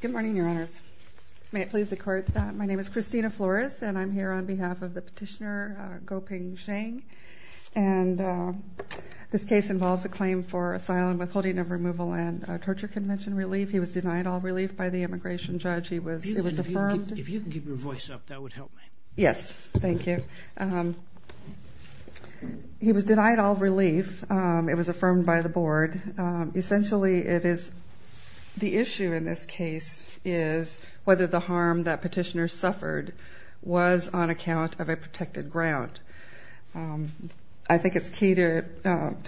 Good morning, Your Honors. May it please the Court, my name is Christina Flores, and I'm here on behalf of the petitioner, Goping Zhang, and this case involves a claim for asylum withholding of removal and torture convention relief. He was denied all relief by the immigration judge. He was affirmed. If you can keep your voice up, that would help me. Yes, thank you. He was denied all relief. It was affirmed by the Board. Essentially, it is the issue in this case is whether the harm that petitioner suffered was on account of a protected ground. I think it's key to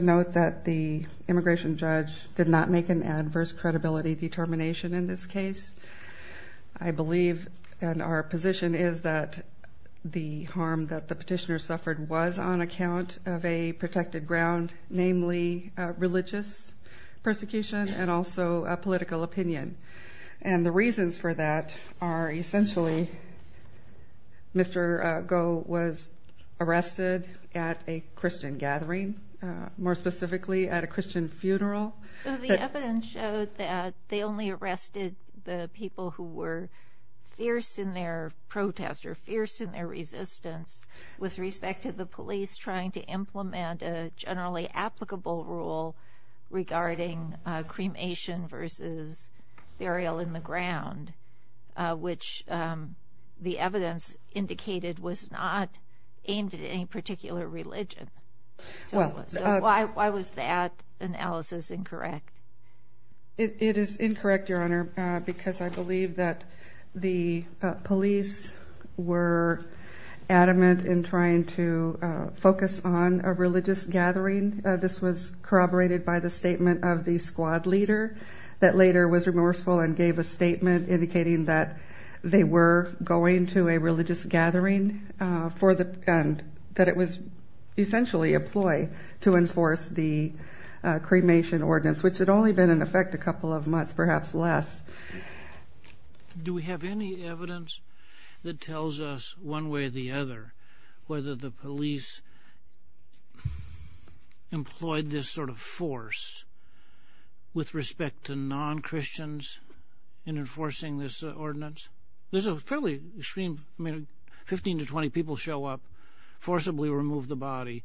note that the immigration judge did not make an adverse credibility determination in this case, that the petitioner suffered was on account of a protected ground, namely religious persecution and also a political opinion. And the reasons for that are essentially, Mr. Guo was arrested at a Christian gathering, more specifically at a Christian funeral. The evidence showed that they only arrested the people who were fierce in their protest or fierce in their resistance with respect to the police trying to implement a generally applicable rule regarding cremation versus burial in the ground, which the evidence indicated was not aimed at any particular religion. So why was that analysis incorrect? It is incorrect, Your Honor, because I believe that the police were adamant in trying to focus on a religious gathering. This was corroborated by the statement of the squad leader that later was remorseful and gave a statement indicating that they were going to a religious gathering for the, that it was essentially a ploy to enforce the cremation ordinance, which had only been in effect a couple of months, perhaps less. Do we have any evidence that tells us, one way or the other, whether the police employed this sort of force with respect to non-Christians in enforcing this ordinance? There's a fairly extreme, I mean, 15 to 20 people show up, forcibly remove the body.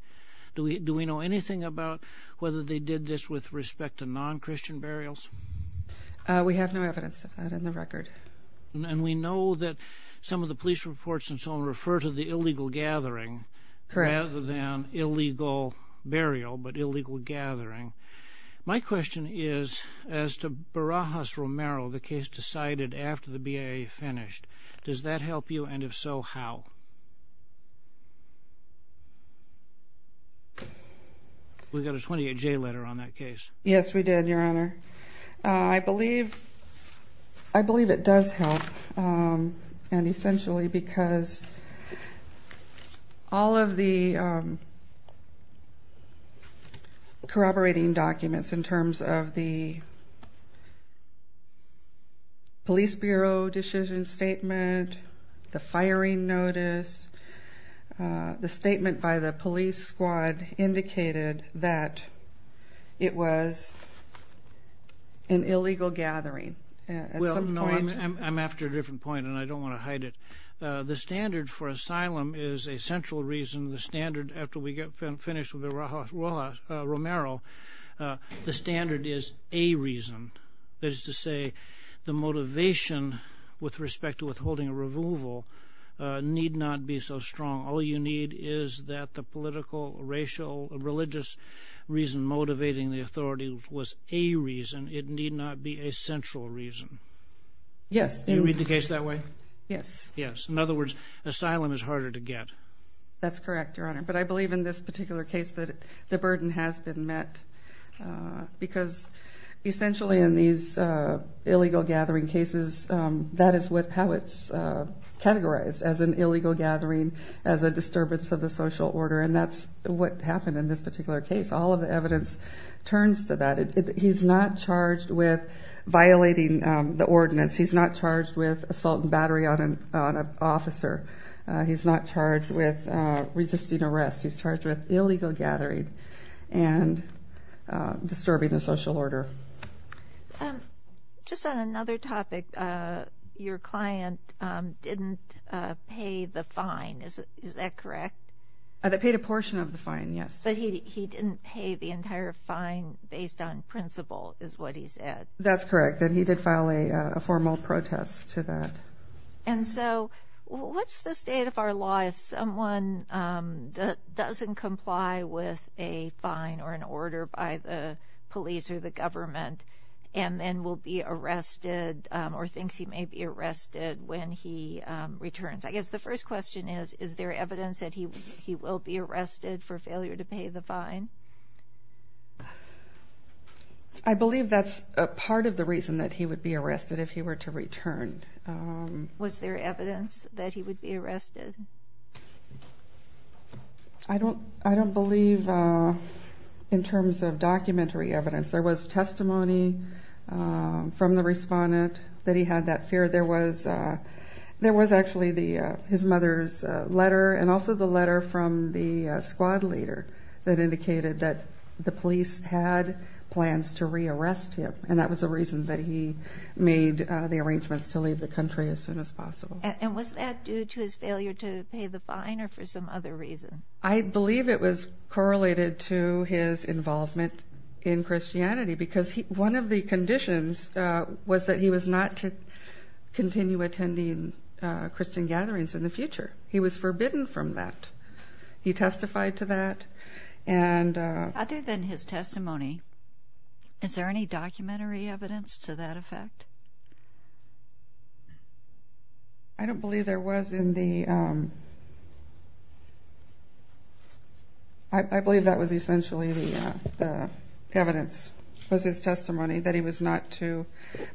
Do we know anything about whether they did this with respect to non-Christian burials? We have no evidence of that in the record. And we know that some of the police reports and so on refer to the illegal gathering rather than illegal burial, but illegal gathering. My question is, as to Barajas-Romero, the case decided after the BIA finished, does that help you? And if so, how? We got a 28-J letter on that case. Yes, we did, Your Honor. I believe, I believe it does help. And essentially because all of the firing notice, the statement by the police squad indicated that it was an illegal gathering at some point. Well, no, I'm after a different point, and I don't want to hide it. The standard for asylum is a central reason. The standard, after we get finished with Barajas-Romero, the standard is a reason. That is to say, the motivation with respect to withholding a removal need not be so strong. All you need is that the political, racial, religious reason motivating the authorities was a reason. It need not be a central reason. Yes. Do you read the case that way? Yes. Yes. In other words, asylum is harder to get. That's correct, Your Honor. But I believe in this particular case that the burden has been met. Because essentially in these illegal gathering cases, that is how it's categorized, as an illegal gathering, as a disturbance of the social order. And that's what happened in this particular case. All of the evidence turns to that. He's not charged with violating the ordinance. He's not charged with assault and assault. He's not charged with resisting arrest. He's charged with illegal gathering and disturbing the social order. Just on another topic, your client didn't pay the fine. Is that correct? They paid a portion of the fine, yes. But he didn't pay the entire fine based on principle, is what he said. That's correct. And he did file a formal protest to that. And so what's the state of our law if someone doesn't comply with a fine or an order by the police or the government and then will be arrested or thinks he may be arrested when he returns? I guess the first question is, is there evidence that he will be arrested for this? I believe that's a part of the reason that he would be arrested if he were to return. Was there evidence that he would be arrested? I don't believe in terms of documentary evidence. There was testimony from the respondent that he had that fear. There was actually his mother's letter and also the letter from the squad leader that indicated that the police had plans to rearrest him. And that was the reason that he made the arrangements to leave the country as soon as possible. And was that due to his failure to pay the fine or for some other reason? I believe it was correlated to his involvement in Christianity because one of the conditions was that he was not to continue attending Christian gatherings in the future. He was forbidden from that. He testified to that. And other than his testimony, is there any documentary evidence to that effect? I don't believe there was in the... I believe that was essentially the evidence was his testimony that he was not to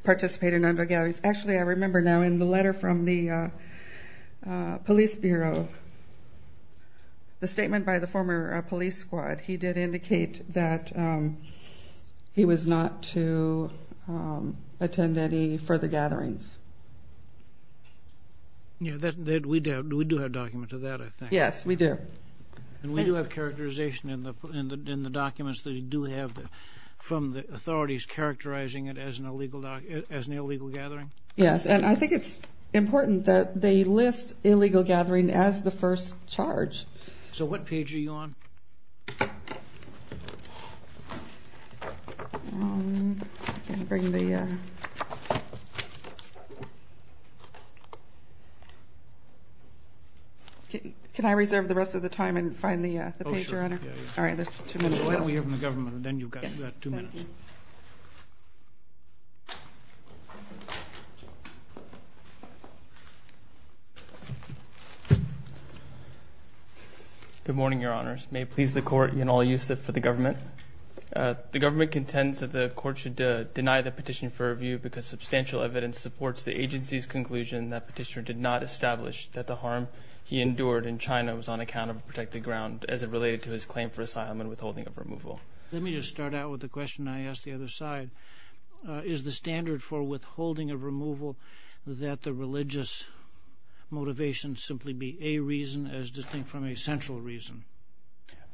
participate in the police bureau. The statement by the former police squad, he did indicate that he was not to attend any further gatherings. Yeah, we do have documents of that, I think. Yes, we do. And we do have characterization in the documents that you do have from the authorities characterizing it as an illegal gathering? Yes, and I think it's important that they list illegal gathering as the first charge. So what page are you on? Can I reserve the rest of the time and find the page, Your Honor? All right, there's two minutes left. We have the government and then you've got two minutes. Good morning, Your Honors. May it please the court and all you sit for the government. The government contends that the court should deny the petition for review because substantial evidence supports the agency's conclusion that petitioner did not establish that the harm he endured in China was on account of protected ground as it related to his claim for asylum and withholding of removal. Let me just start out with the question I asked the other side. Is the standard for withholding of removal that the religious motivation simply be a reason as distinct from a central reason?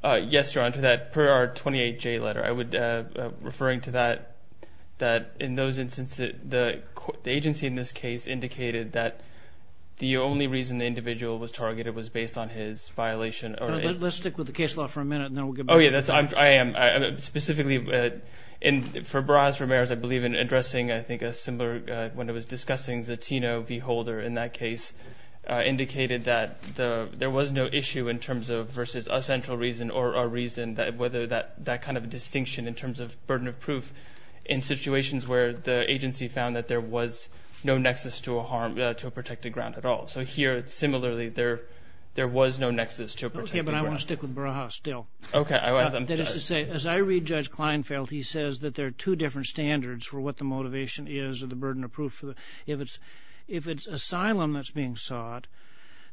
Yes, Your Honor, that per our 28-J letter. I would referring to that, that in those instances, the agency in this case indicated that the only reason the individual was targeted was based on his violation. Let's stick with the case law for a minute and then we'll get back to you. Oh, yeah, I am. Specifically, for Barajas Ramirez, I believe in addressing, I think, a similar, when it was discussing Zatino v. Holder in that case, indicated that there was no issue in terms of versus a central reason or a reason that whether that kind of distinction in terms of burden of proof in situations where the agency found that there was no nexus to a harm, to a protected ground at all. So here, similarly, there was no nexus to a protected ground. Okay, but I want to stick with Barajas still. Okay. That is to say, as I read Judge Kleinfeld, he says that there are two different standards for what the motivation is or the burden of proof. If it's asylum that's being sought,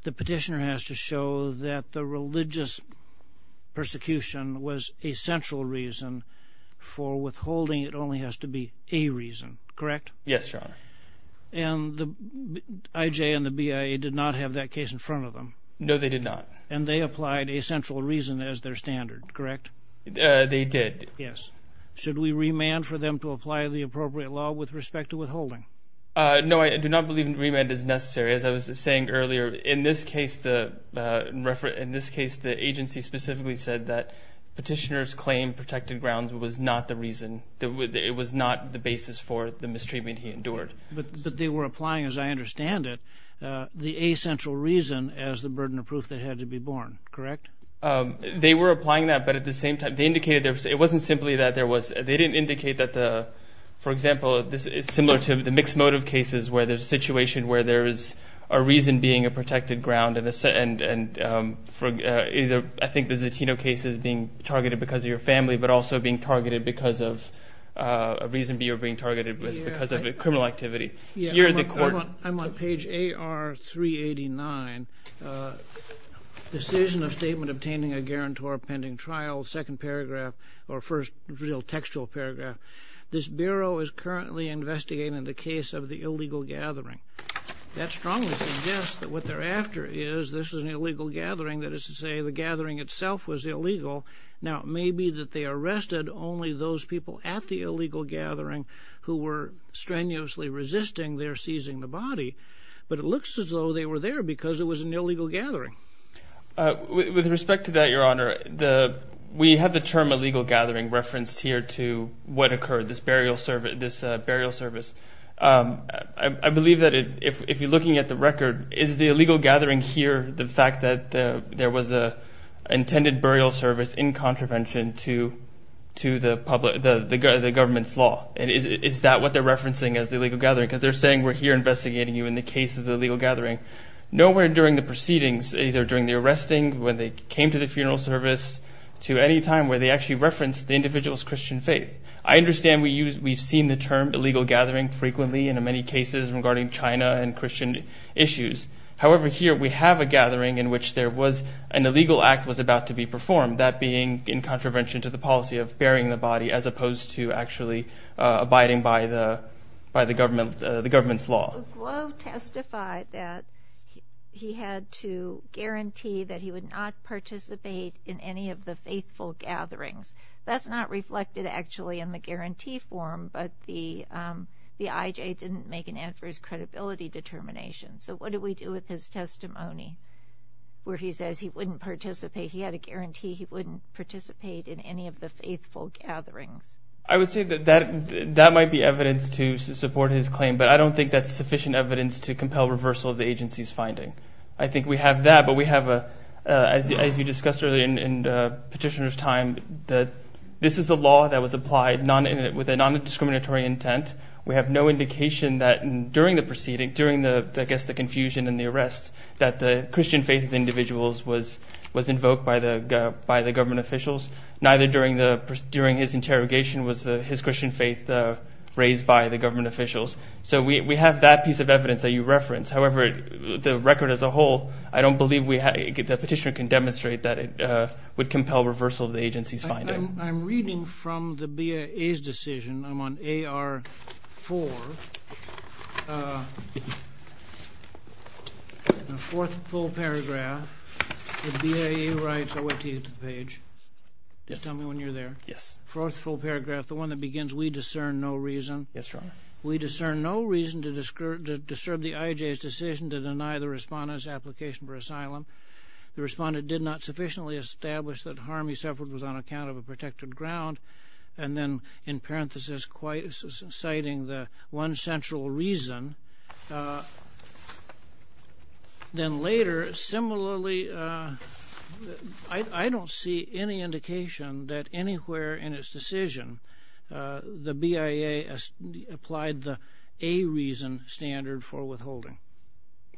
the petitioner has to show that the religious persecution was a central reason for withholding. It only has to be a reason, correct? Yes, Your Honor. And the IJ and the BIA did not have that case in front of them? No, they did not. And they applied a central reason as their standard, correct? They did. Yes. Should we remand for them to apply the appropriate law with respect to withholding? No, I do not believe remand is necessary. As I was saying earlier, in this case, the agency specifically said that petitioner's claim, protected grounds, was not the reason, it was not the basis for the mistreatment he endured. But they were applying, as I understand it, the A, central reason as the burden of proof that had to be borne, correct? They were applying that, but at the same time, they indicated it wasn't simply that there was, they didn't indicate that the, for example, this is similar to the mixed motive cases where there's a situation where there is a reason being a protected ground. And for either, I think the Zatino case is being targeted because of your family, but also being targeted because of a reason you're being targeted, because of a criminal activity. I'm on page AR389, Decision of Statement Obtaining a Guarantor Pending Trial, second paragraph, or first real textual paragraph. This Bureau is currently investigating the case of the illegal gathering. That strongly suggests that what they're after is, this is an illegal gathering, that is to say, the gathering itself was illegal. Now, it may be that they arrested only those people at the illegal gathering who were strenuously resisting their seizing the body, but it looks as though they were there because it was an illegal gathering. With respect to that, Your Honor, the, we have the term illegal gathering referenced here to what occurred, this burial service, this burial service. I believe that if you're looking at the record, is the illegal gathering here the fact that there was a intended burial service in contravention to the public, the government's law? And is that what they're referencing as the illegal gathering? Because they're saying, we're here investigating you in the case of the illegal gathering. Nowhere during the proceedings, either during the arresting, when they came to the funeral service, to any time where they actually referenced the individual's Christian faith. I understand we use, we've seen the term illegal gathering frequently in many cases regarding China and Christian issues. However, here we have a gathering in which there was, an illegal act was about to be performed, that being in contravention to the policy of burying the body as opposed to actually abiding by the, by the government, the government's law. Guo testified that he had to guarantee that he would not participate in any of the faithful gatherings. That's not reflected actually in the guarantee form, but the IJ didn't make an adverse credibility determination. So what do we do with his testimony where he says he wouldn't participate, he had a guarantee he wouldn't participate in any of the faithful gatherings? I would say that that might be evidence to support his claim, but I don't think that's sufficient evidence to compel reversal of the agency's finding. I think we have that, but we have a, as you discussed earlier in petitioner's time, that this is a law that was applied with a non-discriminatory intent. We have no indication that during the proceeding, during the, I guess the confusion and the arrest, that the Christian faith of the individuals was invoked by the government officials. Neither during the, during his interrogation was his Christian faith raised by the government officials. So we have that piece of evidence that you referenced. However, the record as a whole, I don't believe we had, the petitioner can demonstrate that it would compel reversal of the agency's finding. I'm reading from the BIA's decision. I'm on AR4. The fourth full paragraph. The BIA writes, I'll wait until you get to the page. Just tell me when you're there. Yes. Fourth full paragraph, the one that begins, we discern no reason. Yes, Your Honor. We discern no reason to disturb the IJ's decision to deny the respondent's application for asylum. The respondent did not sufficiently establish that harm he suffered was on account of a protected ground. And then in parenthesis, citing the one central reason. Then later, similarly, I don't see any indication that anywhere in his decision, the BIA applied the a reason standard for withholding.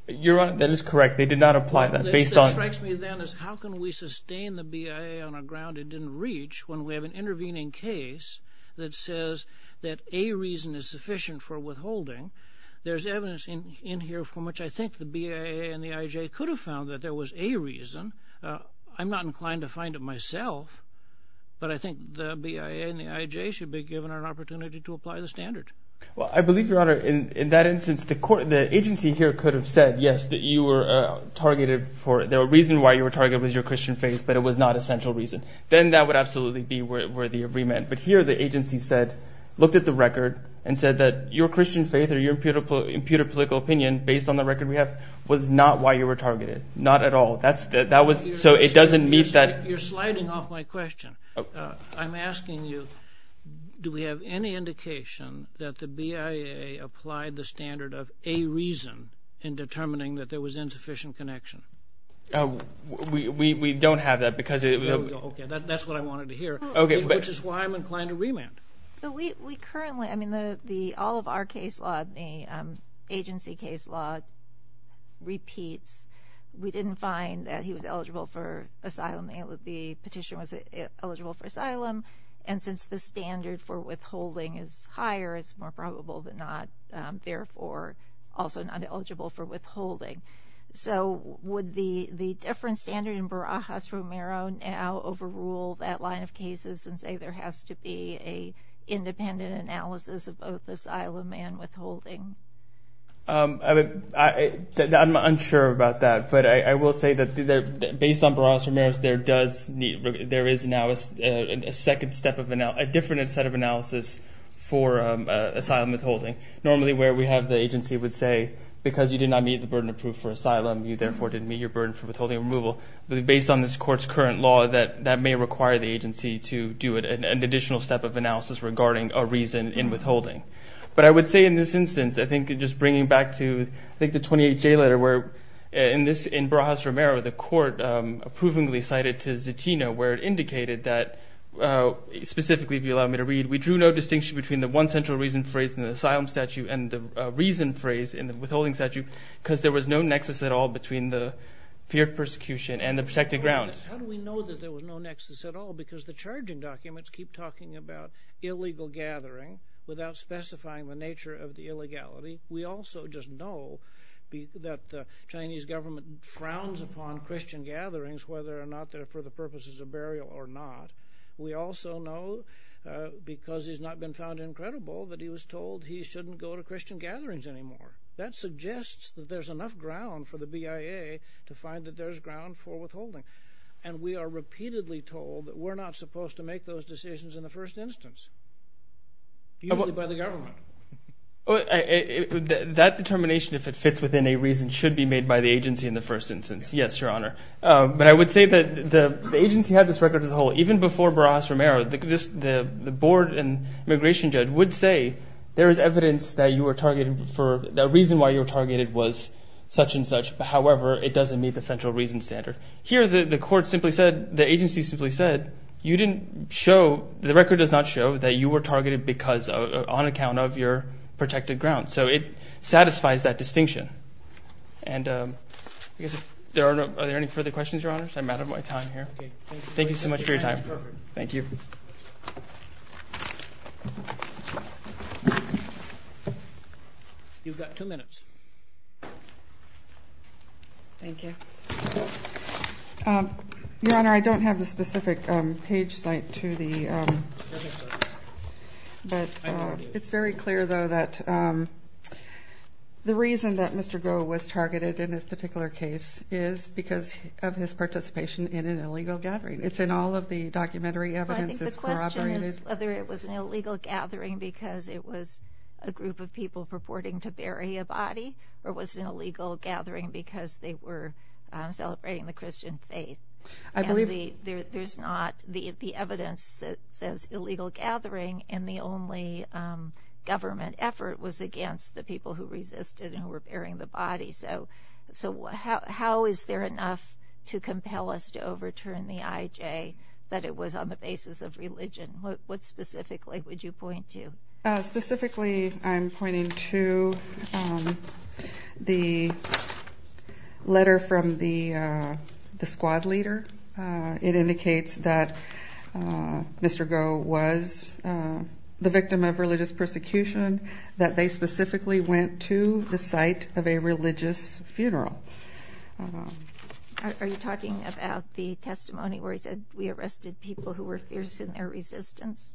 Your Honor, that is correct. They did not apply that. Based on. What strikes me then is how can we sustain the BIA on a ground it didn't reach when we have an intervening case that says that a reason is sufficient for withholding. There's evidence in here from which I think the BIA and the IJ could have found that there was a reason. I'm not inclined to find it myself, but I think the BIA and the IJ should be given an opportunity to apply the standard. Well, I believe, Your Honor, in that instance, the agency here could have said, yes, that you were targeted for the reason why you were targeted was your Christian faith, but it was not a central reason. Then that would absolutely be where the agreement. But here, the agency said, looked at the record and said that your Christian faith or your imputed political opinion based on the record we have was not why you were targeted. Not at all. That's that. That was so it doesn't mean that you're sliding off my question. I'm asking you, do we have any indication that the BIA applied the standard of a reason in determining that there was insufficient connection? We don't have that because it. That's what I wanted to hear, which is why I'm inclined to remand. So we currently I mean, the the all of our case law, the agency case law repeats. We didn't find that he was eligible for asylum. The petition was eligible for asylum. And since the standard for withholding is higher, it's more probable, but not therefore also not eligible for withholding. So would the the different standard in Barajas-Romero now overrule that line of cases and say there has to be a independent analysis of both asylum and withholding? I would I I'm unsure about that, but I will say that based on Barajas-Romero, there does need there is now a second step of a different set of analysis for asylum withholding. Normally, where we have the agency would say, because you did not meet the burden of proof for asylum, you therefore didn't meet your burden for withholding removal. Based on this court's current law, that that may require the agency to do an additional step of analysis regarding a reason in withholding. But I would say in this instance, I think just bringing back to the 28 J letter where in this in Barajas-Romero, the court approvingly cited to Zetino where it indicated that specifically, if you allow me to read, we drew no distinction between the one central reason phrased in the asylum statute and the reason phrase in the withholding statute, because there was no nexus at all between the fear of persecution and the protected grounds. How do we know that there was no nexus at all? Because the charging documents keep talking about illegal gathering without specifying the nature of the illegality. We also just know that the Chinese government frowns upon Christian gatherings, whether or not they're for the purposes of burial or not. We also know, because he's not been found incredible, that he was told he shouldn't go to Christian gatherings anymore. That suggests that there's enough ground for the BIA to find that there's ground for withholding. And we are repeatedly told that we're not supposed to make those decisions in the first instance, usually by the government. That determination, if it fits within a reason, should be made by the agency in the first instance. Yes, Your Honor. But I would say that the agency had this record as a whole. Even before Barras-Romero, the board and immigration judge would say there is evidence that the reason why you were targeted was such and such. However, it doesn't meet the central reason standard. Here, the agency simply said, the record does not show that you were targeted on account of your protected grounds. So it satisfies that distinction. And I guess, are there any further questions, Your Honors? I'm out of my time here. Thank you so much for your time. Thank you. You've got two minutes. Thank you. Your Honor, I don't have the specific page site to the, but it's very clear, though, that the reason that Mr. Goh was targeted in this particular case is because of his participation in an illegal gathering. It's in all of the documentary evidence that's corroborated. Well, I think the question is whether it was an illegal gathering because it was a group of people purporting to bury a body, or was it an illegal gathering because they were celebrating the Christian faith? I believe... There's not the evidence that says illegal gathering, and the only government effort was against the people who resisted and who were burying the body. So how is there enough to compel us to overturn the IJ that it was on the basis of religion? What specifically would you point to? Specifically, I'm pointing to the letter from the squad leader. It indicates that Mr. Goh was the victim of religious persecution, that they specifically went to the site of a religious funeral. Are you talking about the testimony where he said, we arrested people who were fierce in their resistance?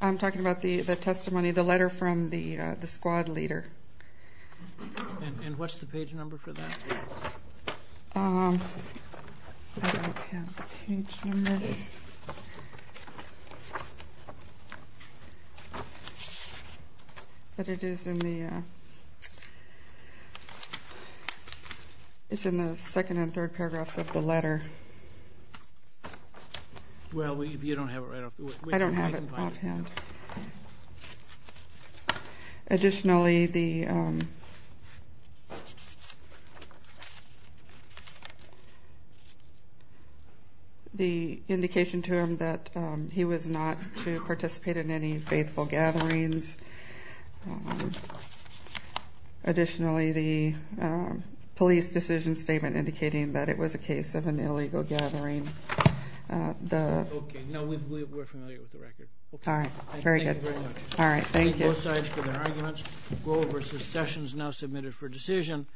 I'm talking about the testimony, the letter from the squad leader. And what's the page number for that? But it is in the second and third paragraphs of the letter. Well, you don't have it right off the... I don't have it. Offhand. Additionally, the indication to him that he was not to participate in any faithful gatherings. Additionally, the police decision statement indicating that it was a case of an illegal gathering. Okay, now we're familiar with the record. All right, very good. All right, thank you. Both sides for their arguments. Goh versus Sessions now submitted for decision.